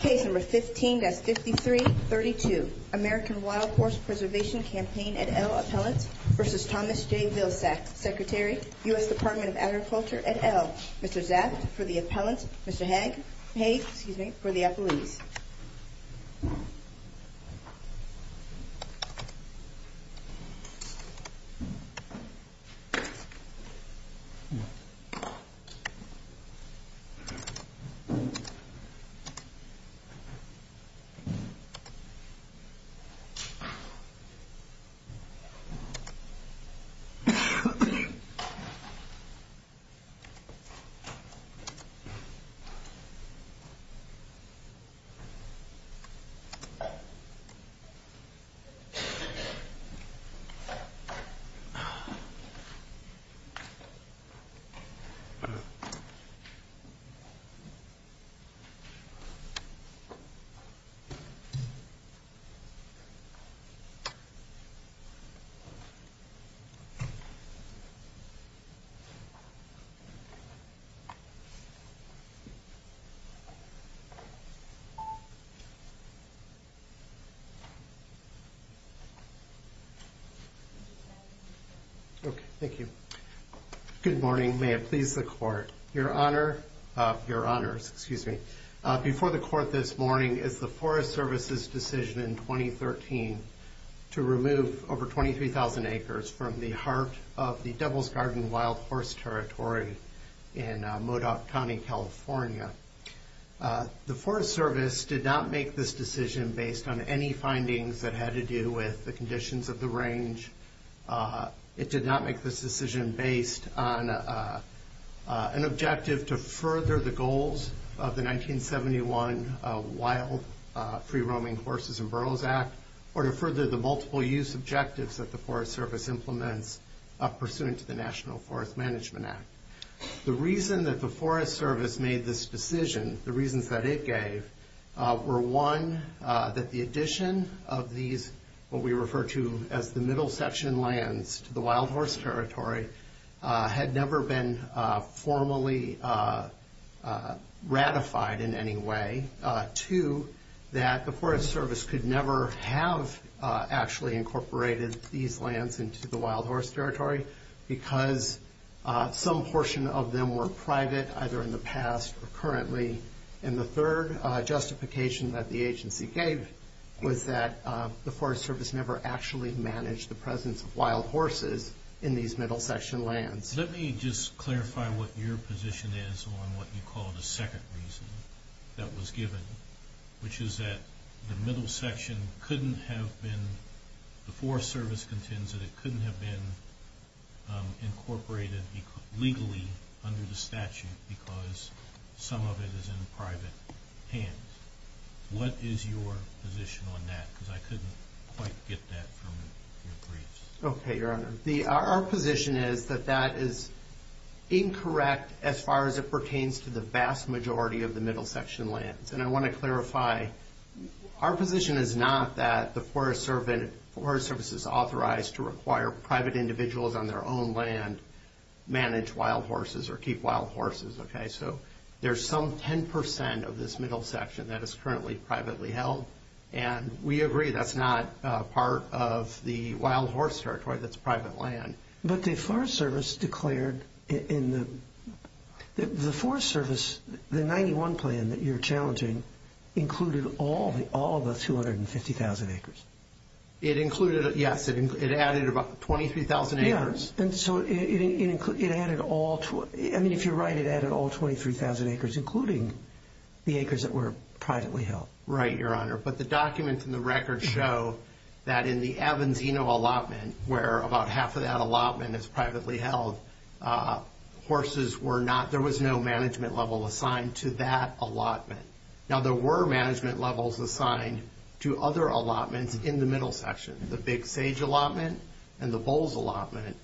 Case No. 15-5332 American Wild Horse Preservation Campaign et al. Appellant v. Thomas J. Vilsack Secretary, U.S. Department of Agriculture et al. Mr. Zaft for the Appellant, Mr. Haig for the Appellant Thank you. Good morning. May it please the Court, Your Honor. Your Honors. Excuse me. Before the Court this morning is the Forest Service's decision in 2013 to remove over 23,000 acres from the heart of the Devil's Garden Wild Horse Territory in Modoc County, California. The Forest Service did not make this decision based on any findings that had to do with the conditions of the range. It did not make this decision based on an objective to further the goals of the 1971 Wild Free Roaming Horses and Burros Act or to further the multiple use objectives that the Forest Service implements pursuant to the National Forest Management Act. The reason that the Forest Service made this decision, the reasons that it gave, were one, that the addition of these what we refer to as the middle section lands to the Wild Horse Territory had never been formally ratified in any way. Two, that the Forest Service could never have actually incorporated these lands into the Wild Horse Territory because some portion of them were private, either in the past or currently. And the third justification that the agency gave was that the Forest Service never actually managed the presence of wild horses in these middle section lands. Let me just clarify what your position is on what you call the second reason that was given, which is that the middle section couldn't have been, the Forest Service contends that it couldn't have been incorporated legally under the statute because some of it is in private hands. What is your position on that? Because I couldn't quite get that from your briefs. Okay, Your Honor. Our position is that that is incorrect as far as it pertains to the vast majority of the middle section lands. And I want to clarify, our position is not that the Forest Service is authorized to require private individuals on their own land manage wild horses or keep wild horses, okay? So there's some 10% of this middle section that is currently privately held, and we agree that's not part of the Wild Horse Territory that's private land. But the Forest Service declared in the, the Forest Service, the 91 plan that you're challenging included all of the 250,000 acres. It included, yes, it added about 23,000 acres. Yeah, and so it added all, I mean if you're right, it added all 23,000 acres, including the acres that were privately held. Right, Your Honor. But the documents in the record show that in the Abanzino allotment, where about half of that allotment is privately held, horses were not, there was no management level assigned to that allotment. Now, there were management levels assigned to other allotments in the middle section, the Big Sage allotment and the Bulls allotment.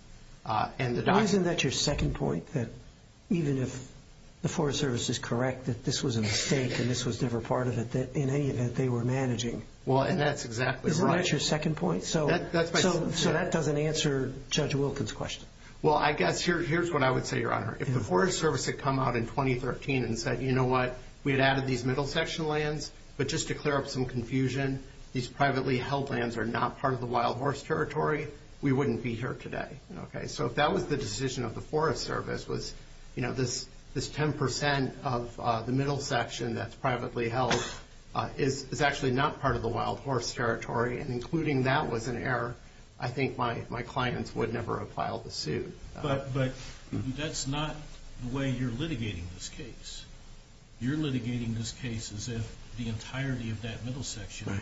Isn't that your second point, that even if the Forest Service is correct that this was a mistake and this was never part of it, that in any event they were managing? Well, and that's exactly right. Isn't that your second point? That's my second point. So that doesn't answer Judge Wilkins' question. Well, I guess here's what I would say, Your Honor. If the Forest Service had come out in 2013 and said, you know what, we had added these middle section lands, but just to clear up some confusion, these privately held lands are not part of the Wild Horse Territory, we wouldn't be here today. Okay. So if that was the decision of the Forest Service was, you know, this 10% of the middle section that's privately held is actually not part of the Wild Horse Territory, and including that was an error, I think my clients would never have filed the suit. But that's not the way you're litigating this case. You're litigating this case as if the entirety of that middle section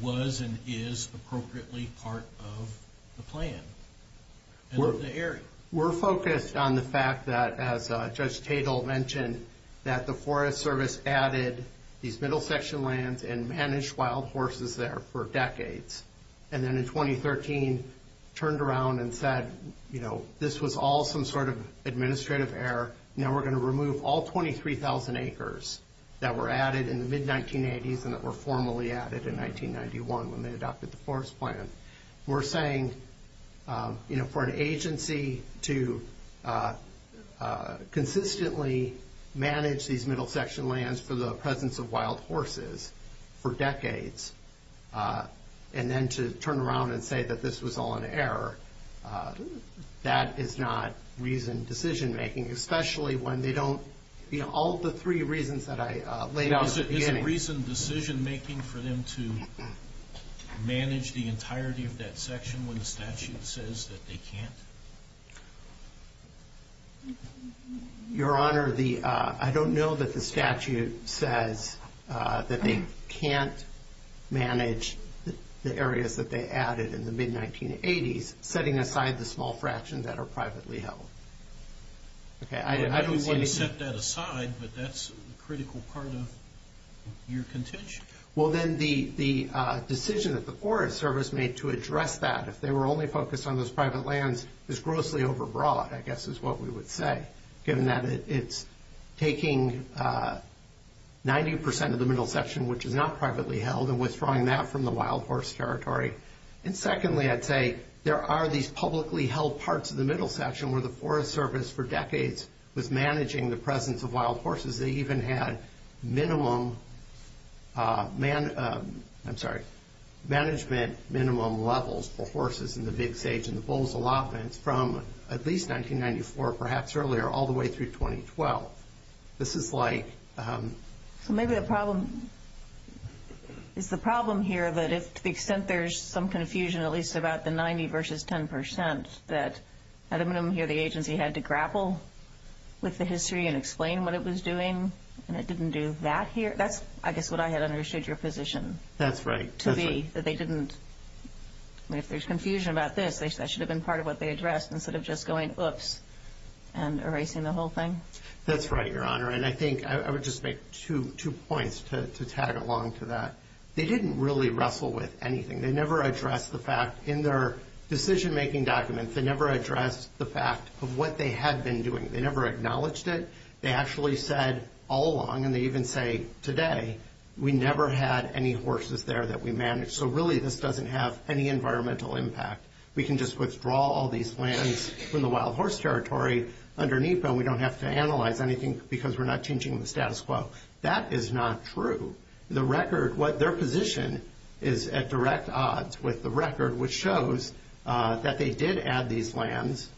was and is appropriately part of the plan and of the area. We're focused on the fact that, as Judge Tatel mentioned, that the Forest Service added these middle section lands and managed wild horses there for decades. And then in 2013 turned around and said, you know, this was all some sort of administrative error. Now we're going to remove all 23,000 acres that were added in the mid-1980s and that were formally added in 1991 when they adopted the forest plan. We're saying, you know, for an agency to consistently manage these middle section lands for the presence of wild horses for decades and then to turn around and say that this was all an error, that is not reasoned decision-making, especially when they don't, you know, all the three reasons that I laid out at the beginning. Is it reasoned decision-making for them to manage the entirety of that section when the statute says that they can't? Your Honor, I don't know that the statute says that they can't manage the areas that they added in the mid-1980s, setting aside the small fractions that are privately held. I don't want to set that aside, but that's a critical part of your contention. Well, then the decision that the Forest Service made to address that, if they were only focused on those private lands, is grossly over-broad, I guess is what we would say, given that it's taking 90 percent of the middle section, which is not privately held, and withdrawing that from the wild horse territory. And secondly, I'd say there are these publicly held parts of the middle section where the Forest Service for decades was managing the presence of wild horses. They even had minimum, I'm sorry, management minimum levels for horses in the Big Sage and the Bulls' allotments from at least 1994, perhaps earlier, all the way through 2012. This is like... So maybe the problem is the problem here that to the extent there's some confusion, at least about the 90 versus 10 percent, that at a minimum here the agency had to grapple with the history and explain what it was doing, and it didn't do that here. That's, I guess, what I had understood your position... That's right. ...to be, that they didn't... I mean, if there's confusion about this, that should have been part of what they addressed instead of just going, oops, and erasing the whole thing. That's right, Your Honor. And I think I would just make two points to tag along to that. They didn't really wrestle with anything. They never addressed the fact in their decision-making documents. They never addressed the fact of what they had been doing. They never acknowledged it. They actually said all along, and they even say today, we never had any horses there that we managed. So really this doesn't have any environmental impact. We can just withdraw all these lands from the wild horse territory underneath and we don't have to analyze anything because we're not changing the status quo. That is not true. The record, what their position is at direct odds with the record, which shows that they did add these lands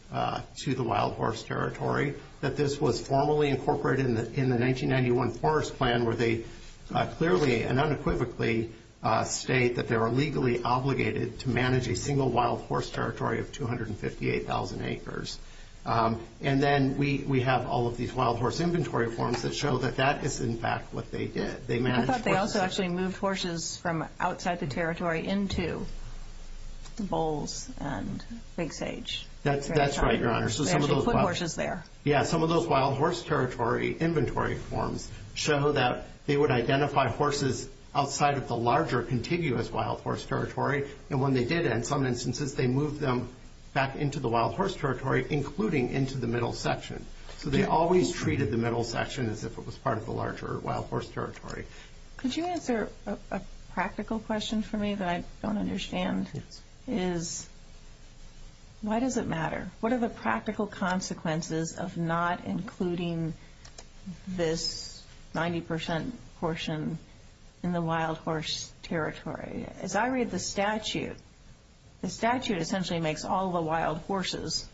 to the wild horse territory, that this was formally incorporated in the 1991 forest plan where they clearly and unequivocally state that they were legally obligated to manage a single wild horse territory of 258,000 acres. And then we have all of these wild horse inventory forms that show that that is, in fact, what they did. I thought they also actually moved horses from outside the territory into the bowls and Big Sage. That's right, Your Honor. They actually put horses there. Yeah, some of those wild horse territory inventory forms show that they would identify horses outside of the larger contiguous wild horse territory. And when they did, in some instances, they moved them back into the wild horse territory, including into the middle section. So they always treated the middle section as if it was part of the larger wild horse territory. Could you answer a practical question for me that I don't understand? Yes. Why does it matter? What are the practical consequences of not including this 90% portion in the wild horse territory? As I read the statute, the statute essentially makes all the wild horses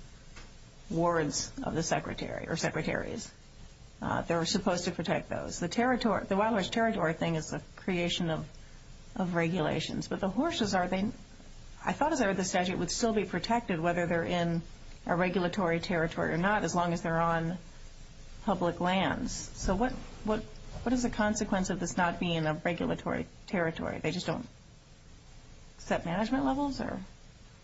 wards of the secretaries. They're supposed to protect those. The wild horse territory thing is the creation of regulations. But the horses, I thought as I read the statute, would still be protected whether they're in a regulatory territory or not as long as they're on public lands. So what is the consequence of this not being a regulatory territory? They just don't set management levels?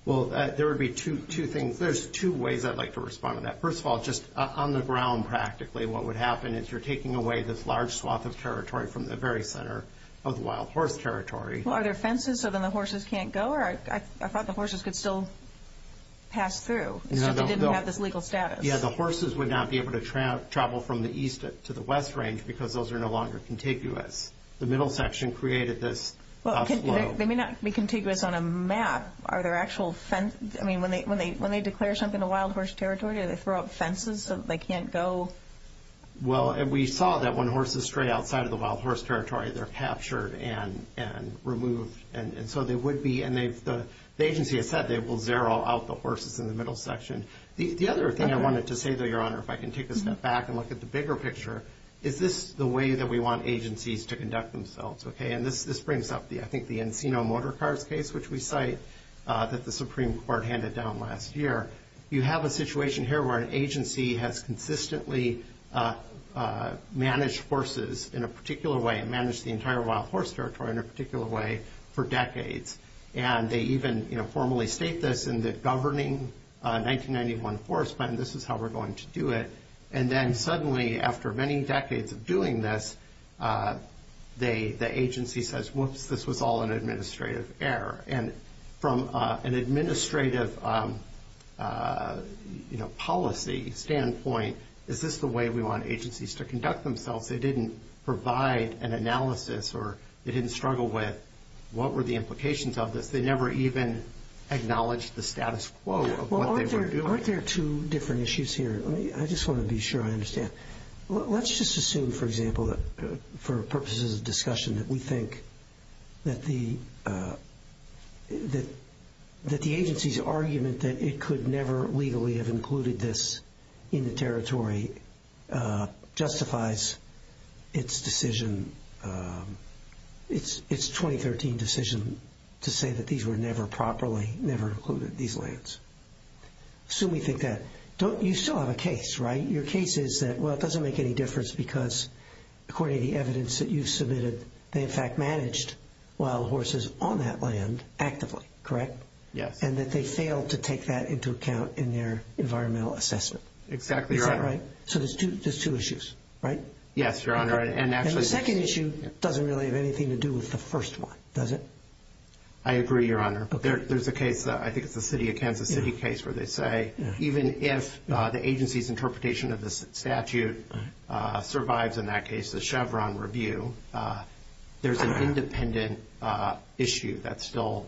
Well, there would be two things. There's two ways I'd like to respond to that. First of all, just on the ground practically, what would happen is you're taking away this large swath of territory from the very center of the wild horse territory. Well, are there fences so then the horses can't go? Or I thought the horses could still pass through. It's just they didn't have this legal status. Yeah, the horses would not be able to travel from the east to the west range because those are no longer contiguous. The middle section created this flow. They may not be contiguous on a map. Are there actual fence? I mean, when they declare something a wild horse territory, do they throw up fences so they can't go? Well, we saw that when horses stray outside of the wild horse territory, they're captured and removed. And so they would be. And the agency has said they will zero out the horses in the middle section. The other thing I wanted to say, though, Your Honor, if I can take a step back and look at the bigger picture, is this the way that we want agencies to conduct themselves? And this brings up, I think, the Encino Motor Cars case, which we cite that the Supreme Court handed down last year. You have a situation here where an agency has consistently managed horses in a particular way and managed the entire wild horse territory in a particular way for decades. And they even formally state this in the governing 1991 force plan, this is how we're going to do it. And then suddenly, after many decades of doing this, the agency says, whoops, this was all an administrative error. And from an administrative policy standpoint, is this the way we want agencies to conduct themselves? They didn't provide an analysis or they didn't struggle with what were the implications of this. They never even acknowledged the status quo of what they were doing. Aren't there two different issues here? I just want to be sure I understand. Let's just assume, for example, for purposes of discussion, that we think that the agency's argument that it could never legally have included this in the territory justifies its decision, its 2013 decision, Assume we think that. You still have a case, right? Your case is that, well, it doesn't make any difference because, according to the evidence that you submitted, they in fact managed wild horses on that land actively, correct? Yes. And that they failed to take that into account in their environmental assessment. Exactly, Your Honor. Is that right? So there's two issues, right? Yes, Your Honor. And the second issue doesn't really have anything to do with the first one, does it? I agree, Your Honor. There's a case, I think it's the City of Kansas City case, where they say, even if the agency's interpretation of the statute survives, in that case, the Chevron review, there's an independent issue that still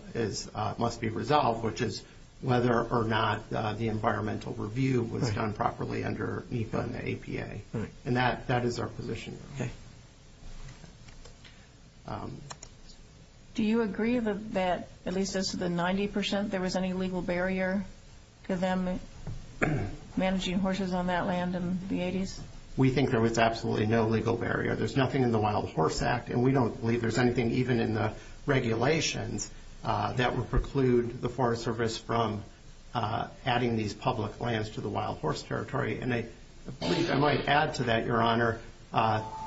must be resolved, which is whether or not the environmental review was done properly under NEPA and APA. And that is our position. Okay. Do you agree that, at least as to the 90 percent, there was any legal barrier to them managing horses on that land in the 80s? We think there was absolutely no legal barrier. There's nothing in the Wild Horse Act, and we don't believe there's anything even in the regulations that would preclude the Forest Service from adding these public lands to the wild horse territory. I might add to that, Your Honor,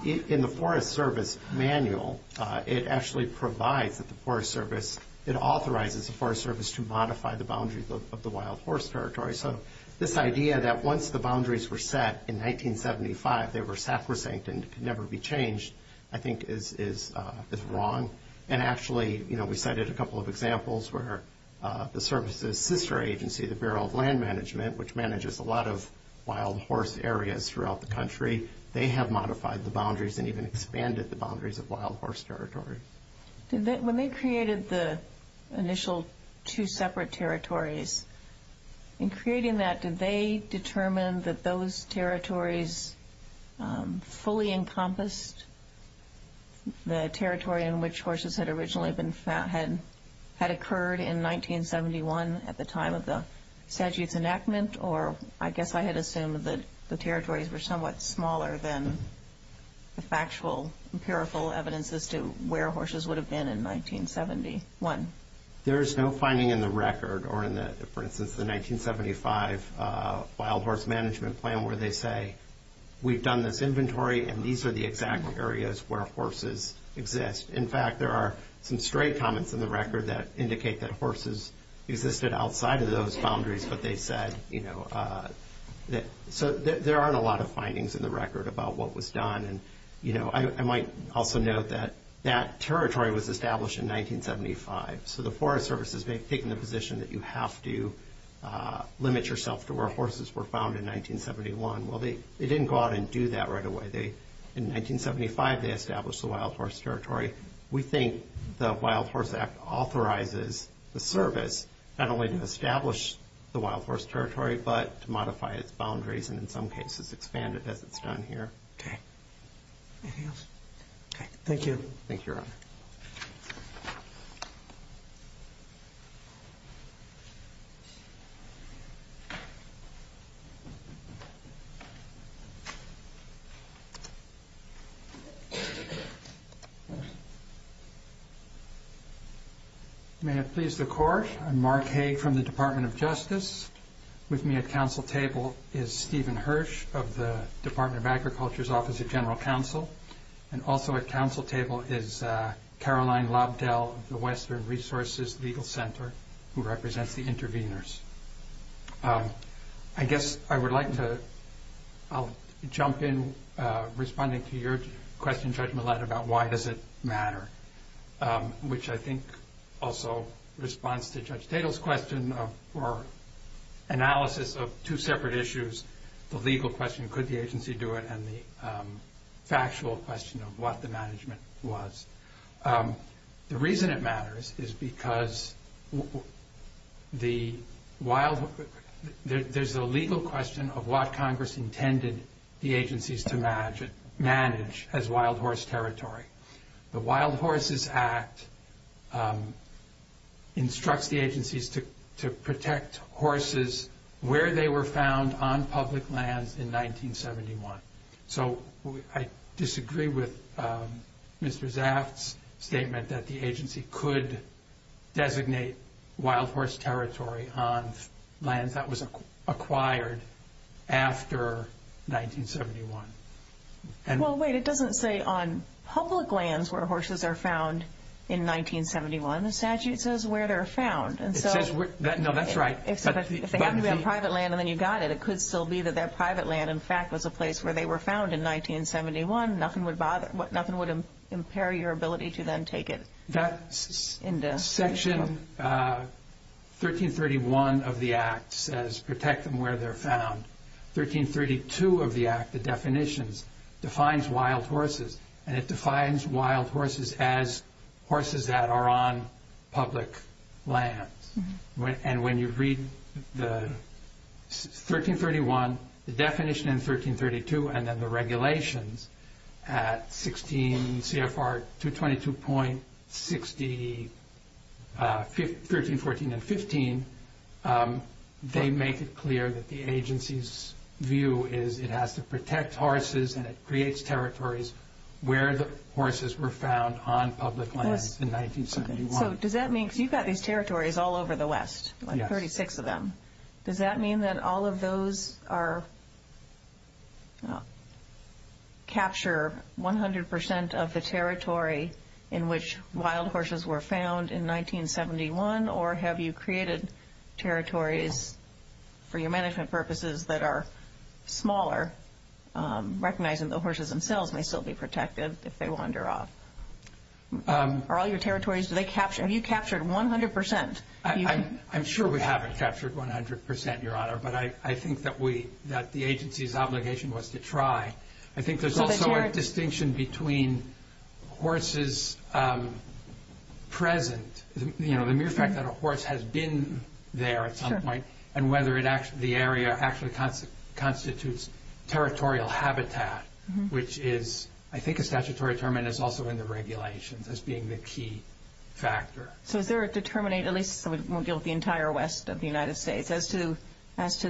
in the Forest Service manual, it actually provides that the Forest Service, it authorizes the Forest Service to modify the boundaries of the wild horse territory. So this idea that once the boundaries were set in 1975, they were sacrosanct and could never be changed, I think is wrong. And actually, we cited a couple of examples where the service's sister agency, the Bureau of Land Management, which manages a lot of wild horse areas throughout the country, they have modified the boundaries and even expanded the boundaries of wild horse territory. When they created the initial two separate territories, in creating that, did they determine that those territories fully encompassed the territory in which horses had originally been found, had occurred in 1971 at the time of the statute's enactment? Or I guess I had assumed that the territories were somewhat smaller than the factual, empirical evidence as to where horses would have been in 1971. There is no finding in the record or in the, for instance, the 1975 Wild Horse Management Plan where they say, we've done this inventory and these are the exact areas where horses exist. In fact, there are some stray comments in the record that indicate that horses existed outside of those boundaries, but they said, you know, so there aren't a lot of findings in the record about what was done. And, you know, I might also note that that territory was established in 1975. So the Forest Service has taken the position that you have to limit yourself to where horses were found in 1971. Well, they didn't go out and do that right away. In 1975 they established the Wild Horse Territory. We think the Wild Horse Act authorizes the service not only to establish the Wild Horse Territory, but to modify its boundaries and in some cases expand it as it's done here. Okay. Anything else? Okay. Thank you. Thank you, Your Honor. Thank you. May it please the Court, I'm Mark Hague from the Department of Justice. With me at council table is Stephen Hirsch of the Department of Agriculture's Office of General Counsel. And also at council table is Caroline Lobdell of the Western Resources Legal Center who represents the interveners. I guess I would like to jump in responding to your question, Judge Millett, about why does it matter, which I think also responds to Judge Tatel's question for analysis of two separate issues, the legal question, could the agency do it, and the factual question of what the management was. The reason it matters is because there's a legal question of what Congress intended the agencies to manage as Wild Horse Territory. The Wild Horses Act instructs the agencies to protect horses where they were found on public lands in 1971. So I disagree with Mr. Zaft's statement that the agency could designate Wild Horse Territory on lands that was acquired after 1971. Well, wait, it doesn't say on public lands where horses are found in 1971. The statute says where they're found. No, that's right. If they happen to be on private land and then you got it, it could still be that private land, in fact, was a place where they were found in 1971, nothing would impair your ability to then take it. That section 1331 of the Act says protect them where they're found. 1332 of the Act, the definitions, defines wild horses, and it defines wild horses as horses that are on public land. When you read the 1331, the definition in 1332, and then the regulations at 16 CFR 222.13, 14, and 15, they make it clear that the agency's view is it has to protect horses and it creates territories where the horses were found on public lands in 1971. So does that mean, because you've got these territories all over the West, like 36 of them, does that mean that all of those capture 100% of the territory in which wild horses were found in 1971, or have you created territories for your management purposes that are smaller, recognizing the horses themselves may still be protected if they wander off? Are all your territories, have you captured 100%? I'm sure we haven't captured 100%, Your Honor, but I think that the agency's obligation was to try. I think there's also a distinction between horses present, the mere fact that a horse has been there at some point, and whether the area actually constitutes territorial habitat, which is, I think, a statutory term and is also in the regulations as being the key factor. So is there a determinate, at least the entire West of the United States, as to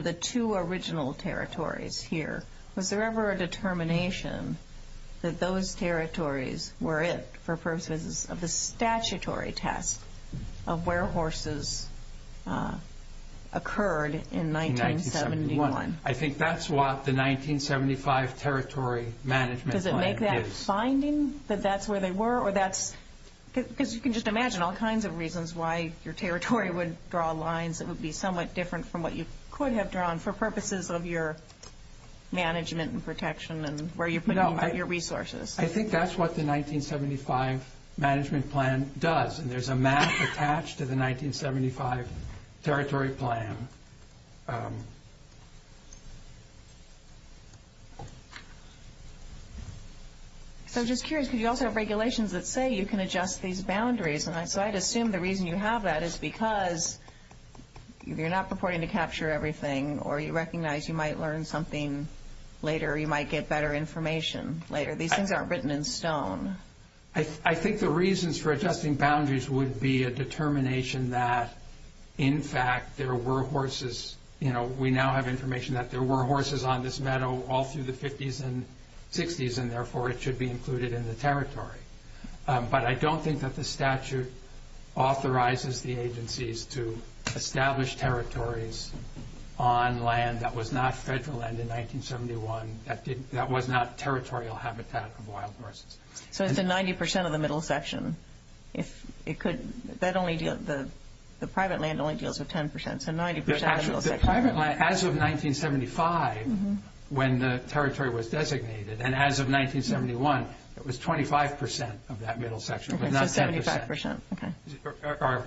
the two original territories here, was there ever a determination that those territories were it for purposes of the statutory test of where horses occurred in 1971? I think that's what the 1975 Territory Management Plan is. Does it make that finding that that's where they were, or that's, because you can just imagine all kinds of reasons why your territory would draw lines that would be somewhat different from what you could have drawn for purposes of your management and protection and where you're putting your resources. I think that's what the 1975 Management Plan does, and there's a map attached to the 1975 Territory Plan. So I'm just curious, because you also have regulations that say you can adjust these boundaries, and so I'd assume the reason you have that is because you're not purporting to capture everything, or you recognize you might learn something later, or you might get better information later. These things aren't written in stone. I think the reasons for adjusting boundaries would be a determination that, in fact, there were horses. We now have information that there were horses on this meadow all through the 50s and 60s, and therefore it should be included in the territory. But I don't think that the statute authorizes the agencies to establish territories on land that was not federal land in 1971, that was not territorial habitat of wild horses. So it's in 90% of the middle section? The private land only deals with 10%, so 90% of the middle section. As of 1975, when the territory was designated, and as of 1971, it was 25% of that middle section, but not 10%. Okay, so 75%, okay.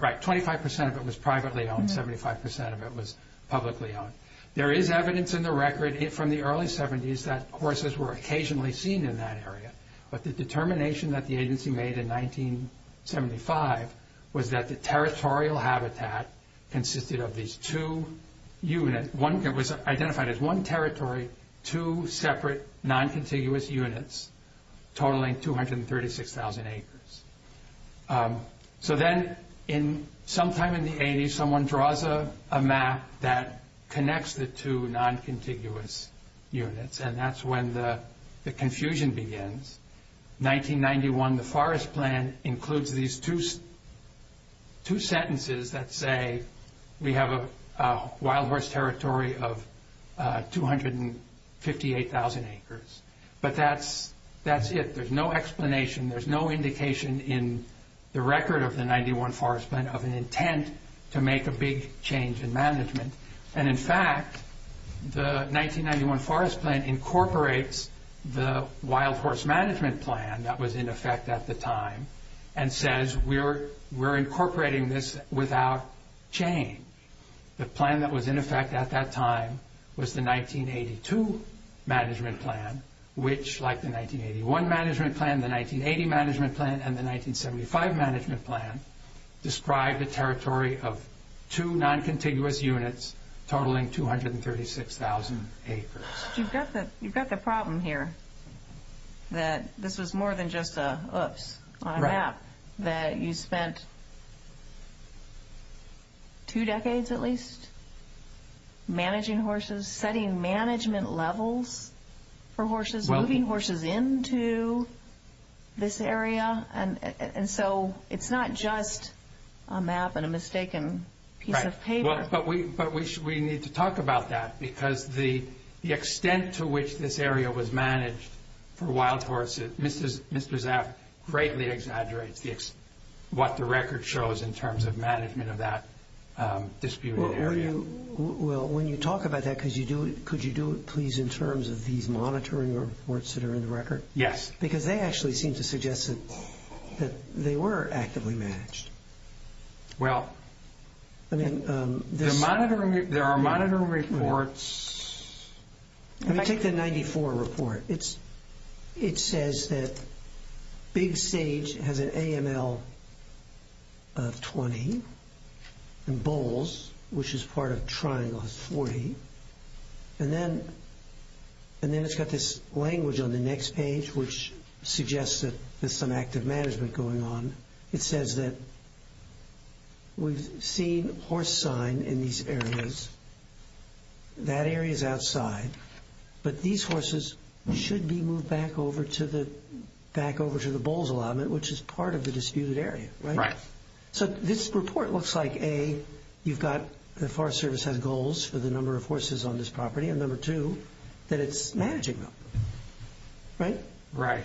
Right, 25% of it was privately owned, 75% of it was publicly owned. There is evidence in the record from the early 70s that horses were occasionally seen in that area. But the determination that the agency made in 1975 was that the territorial habitat consisted of these two units. It was identified as one territory, two separate non-contiguous units, totaling 236,000 acres. So then sometime in the 80s, someone draws a map that connects the two non-contiguous units, and that's when the confusion begins. 1991, the Forest Plan includes these two sentences that say, we have a wild horse territory of 258,000 acres. But that's it. There's no explanation, there's no indication in the record of the 91 Forest Plan of an intent to make a big change in management. And in fact, the 1991 Forest Plan incorporates the wild horse management plan that was in effect at the time, and says we're incorporating this without change. The plan that was in effect at that time was the 1982 management plan, which, like the 1981 management plan, the 1980 management plan, and the totaling 236,000 acres. You've got the problem here, that this was more than just a, oops, on a map, that you spent two decades at least managing horses, setting management levels for horses, moving horses into this area. And so it's not just a map and a mistaken piece of paper. But we need to talk about that, because the extent to which this area was managed for wild horses, Mr. Zapp greatly exaggerates what the record shows in terms of management of that disputed area. Well, when you talk about that, could you do it please in terms of these monitoring reports that are in the record? Yes. Because they actually seem to suggest that they were actively managed. Well, there are monitoring reports. Take the 94 report. It says that Big Sage has an AML of 20, and Bowles, which is part of Triangle, has 40. And then it's got this language on the next page which suggests that there's some active management going on. It says that we've seen horse sign in these areas. That area is outside. But these horses should be moved back over to the Bowles allotment, which is part of the disputed area, right? Right. So this report looks like, A, you've got the Forest Service has goals for the number of horses on this property, and number two, that it's managing them. Right? Right.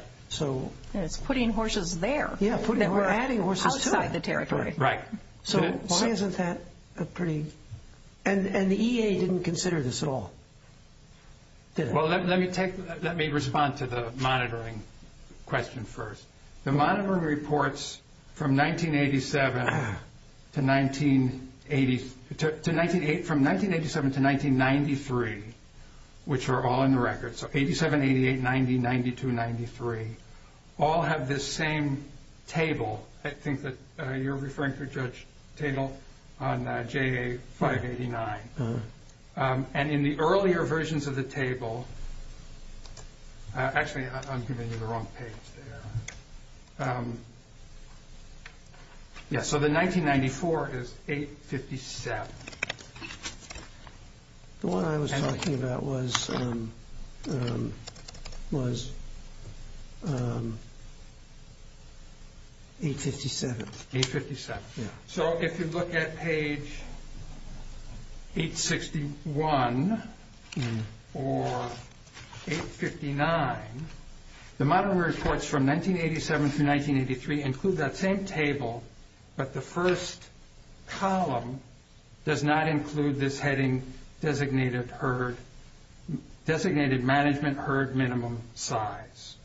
It's putting horses there. Yeah, we're adding horses too. Outside the territory. Right. So why isn't that a pretty – and the EA didn't consider this at all, did it? Well, let me take – let me respond to the monitoring question first. The monitoring reports from 1987 to 1980 – from 1987 to 1993, which are all in the record. So 87, 88, 90, 92, 93 all have this same table. I think that you're referring to Judge Tatel on JA589. And in the earlier versions of the table – actually, I'm giving you the wrong page there. Yeah, so the 1994 is 857. The one I was talking about was 857. 857. Yeah. So if you look at page 861 or 859, the monitoring reports from 1987 to 1983 include that same table, but the first column does not include this heading Designated Management Herd Minimum Size.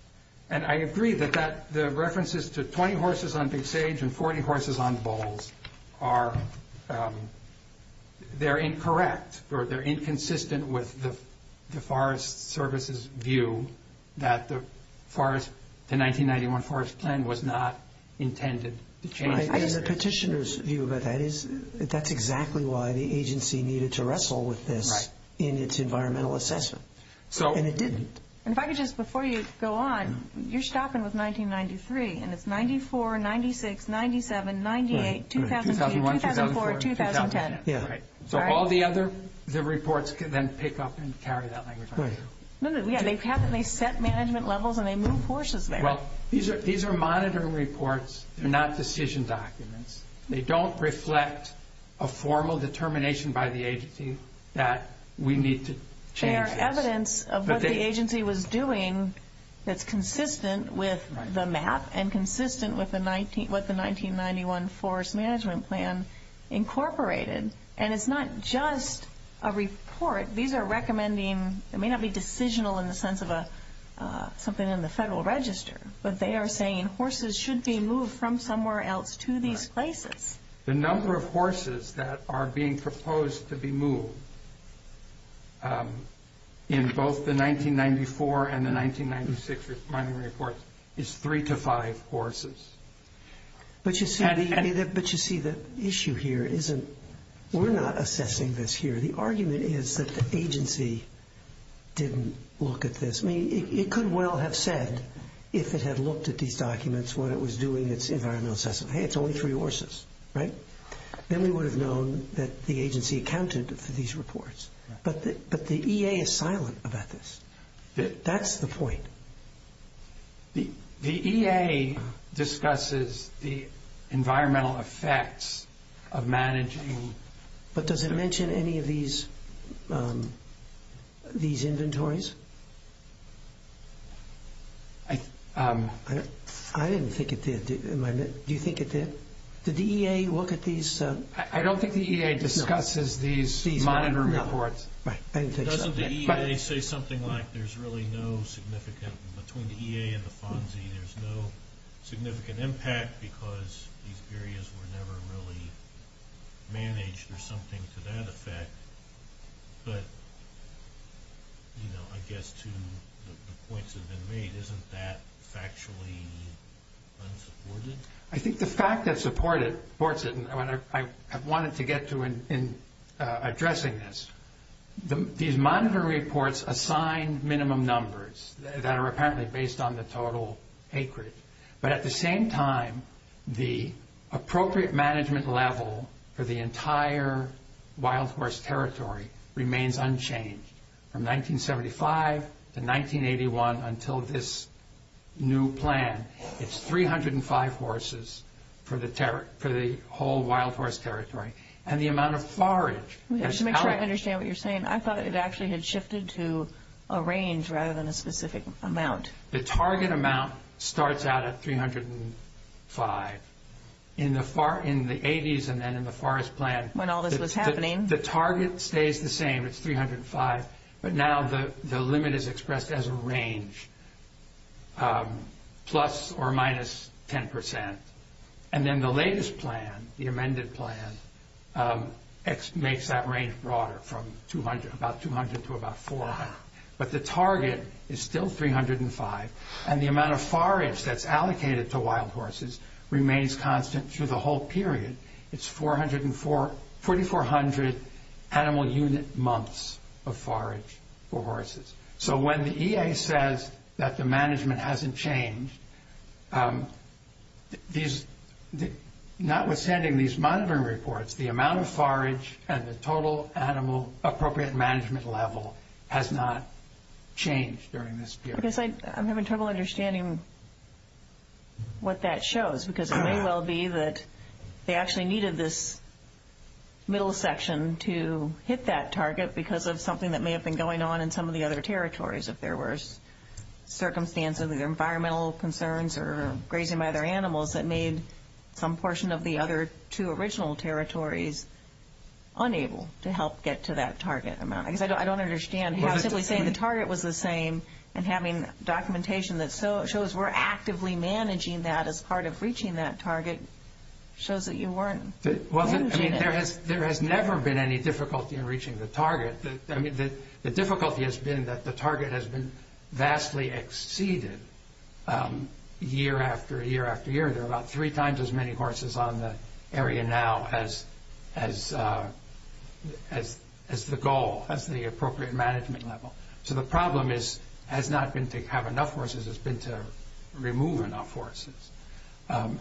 And I agree that the references to 20 horses on Big Sage and 40 horses on Bulls are – they're incorrect or they're inconsistent with the Forest Service's view that the forest – the 1991 forest plan was not intended to change that. I guess the petitioner's view about that is that that's exactly why the agency needed to wrestle with this in its environmental assessment. And it didn't. And if I could just – before you go on, you're stopping with 1993, and it's 94, 96, 97, 98, 2001, 2004, 2010. Yeah. So all the other – the reports then pick up and carry that language on through. No, no, yeah. They set management levels and they move horses there. Well, these are monitoring reports. They're not decision documents. They don't reflect a formal determination by the agency that we need to change this. They are evidence of what the agency was doing that's consistent with the map and consistent with what the 1991 forest management plan incorporated. And it's not just a report. These are recommending – it may not be decisional in the sense of something in the Federal Register, but they are saying horses should be moved from somewhere else to these places. The number of horses that are being proposed to be moved in both the 1994 and the 1996 monitoring reports is three to five horses. But you see, the issue here isn't – we're not assessing this here. The argument is that the agency didn't look at this. I mean, it could well have said, if it had looked at these documents, what it was doing, its environmental assessment. Hey, it's only three horses, right? Then we would have known that the agency accounted for these reports. But the EA is silent about this. That's the point. The EA discusses the environmental effects of managing – but does it mention any of these inventories? I didn't think it did. Do you think it did? Did the EA look at these? I don't think the EA discusses these monitoring reports. Doesn't the EA say something like there's really no significant – between the EA and the FONSI there's no significant impact because these areas were never really managed or something to that effect. But, you know, I guess to the points that have been made, isn't that factually unsupported? I think the fact that supports it – and I wanted to get to in addressing this. These monitoring reports assign minimum numbers that are apparently based on the total acreage. But at the same time, the appropriate management level for the entire wild horse territory remains unchanged. From 1975 to 1981 until this new plan, it's 305 horses for the whole wild horse territory. And the amount of forage – Just to make sure I understand what you're saying, I thought it actually had shifted to a range rather than a specific amount. The target amount starts out at 305. In the 80s and then in the forest plan – When all this was happening. The target stays the same. It's 305. But now the limit is expressed as a range, plus or minus 10%. And then the latest plan, the amended plan, makes that range broader from about 200 to about 400. But the target is still 305. And the amount of forage that's allocated to wild horses remains constant through the whole period. It's 4,400 animal unit months of forage for horses. So when the EA says that the management hasn't changed, notwithstanding these monitoring reports, the amount of forage and the total animal appropriate management level has not changed during this period. I'm having trouble understanding what that shows because it may well be that they actually needed this middle section to hit that target because of something that may have been going on in some of the other territories. If there were circumstances of environmental concerns or grazing by other animals that made some portion of the other two original territories unable to help get to that target amount. I guess I don't understand how simply saying the target was the same and having documentation that shows we're actively managing that as part of reaching that target shows that you weren't managing it. There has never been any difficulty in reaching the target. The difficulty has been that the target has been vastly exceeded year after year after year. There are about three times as many horses on the area now as the goal, as the appropriate management level. So the problem has not been to have enough horses. It's been to remove enough horses. Well,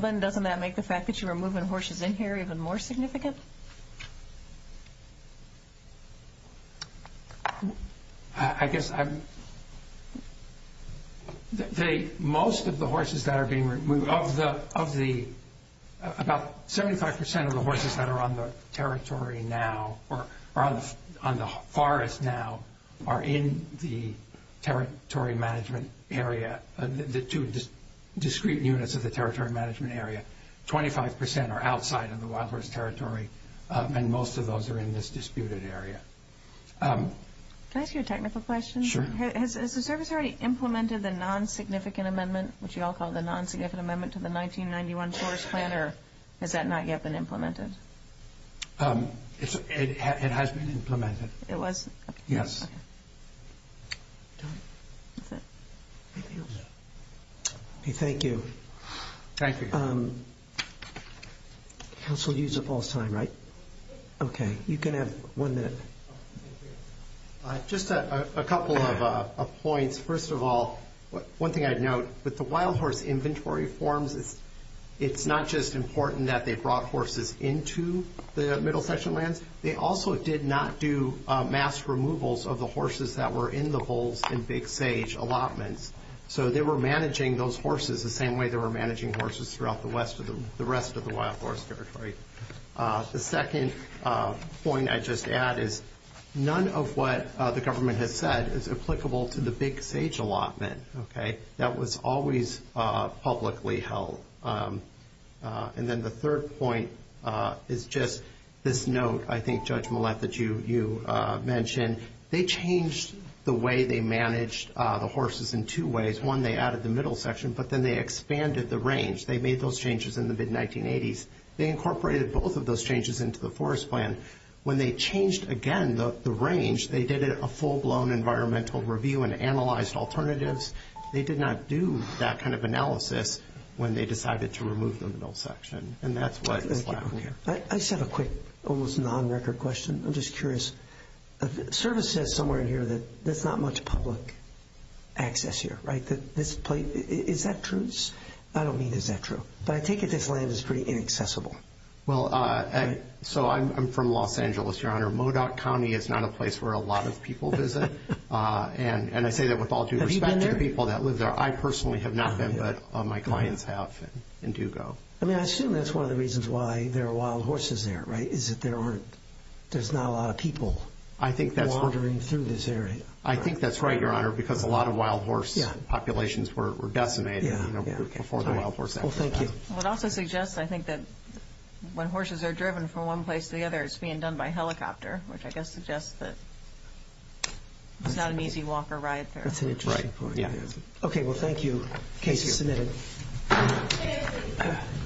then doesn't that make the fact that you're removing horses in here even more significant? I guess most of the horses that are being removed, about 75% of the horses that are on the forest now are in the territory management area, the two discrete units of the territory management area. 25% are outside of the wild horse territory, and most of those are in this disputed area. Can I ask you a technical question? Sure. Has the service already implemented the non-significant amendment, which you all call the non-significant amendment to the 1991 Forest Plan, or has that not yet been implemented? It has been implemented. It was? Yes. Thank you. Thank you. Counsel, you used up all his time, right? Okay. You can have one minute. Just a couple of points. First of all, one thing I'd note, with the wild horse inventory forms, it's not just important that they brought horses into the middle section lands. They also did not do mass removals of the horses that were in the holes in Big Sage allotments. So they were managing those horses the same way they were managing horses throughout the rest of the wild horse territory. The second point I'd just add is none of what the government has said is applicable to the Big Sage allotment. That was always publicly held. And then the third point is just this note, I think, Judge Millett, that you mentioned. They changed the way they managed the horses in two ways. One, they added the middle section, but then they expanded the range. They made those changes in the mid-1980s. They incorporated both of those changes into the forest plan. When they changed, again, the range, they did a full-blown environmental review and analyzed alternatives. They did not do that kind of analysis when they decided to remove the middle section. And that's what is left here. I just have a quick, almost non-record question. I'm just curious. Service says somewhere in here that there's not much public access here, right? Is that true? I don't mean is that true. But I take it this land is pretty inaccessible. Well, so I'm from Los Angeles, Your Honor. Modoc County is not a place where a lot of people visit. And I say that with all due respect to the people that live there. I personally have not been, but my clients have in Dugo. I mean, I assume that's one of the reasons why there are wild horses there, right, is that there's not a lot of people wandering through this area. I think that's right, Your Honor, because a lot of wild horse populations were decimated before the Wild Horse Act was passed. Well, thank you. It also suggests, I think, that when horses are driven from one place to the other, it's being done by helicopter, which I guess suggests that it's not an easy walk or ride there. That's an interesting point. Okay, well, thank you. Case is submitted.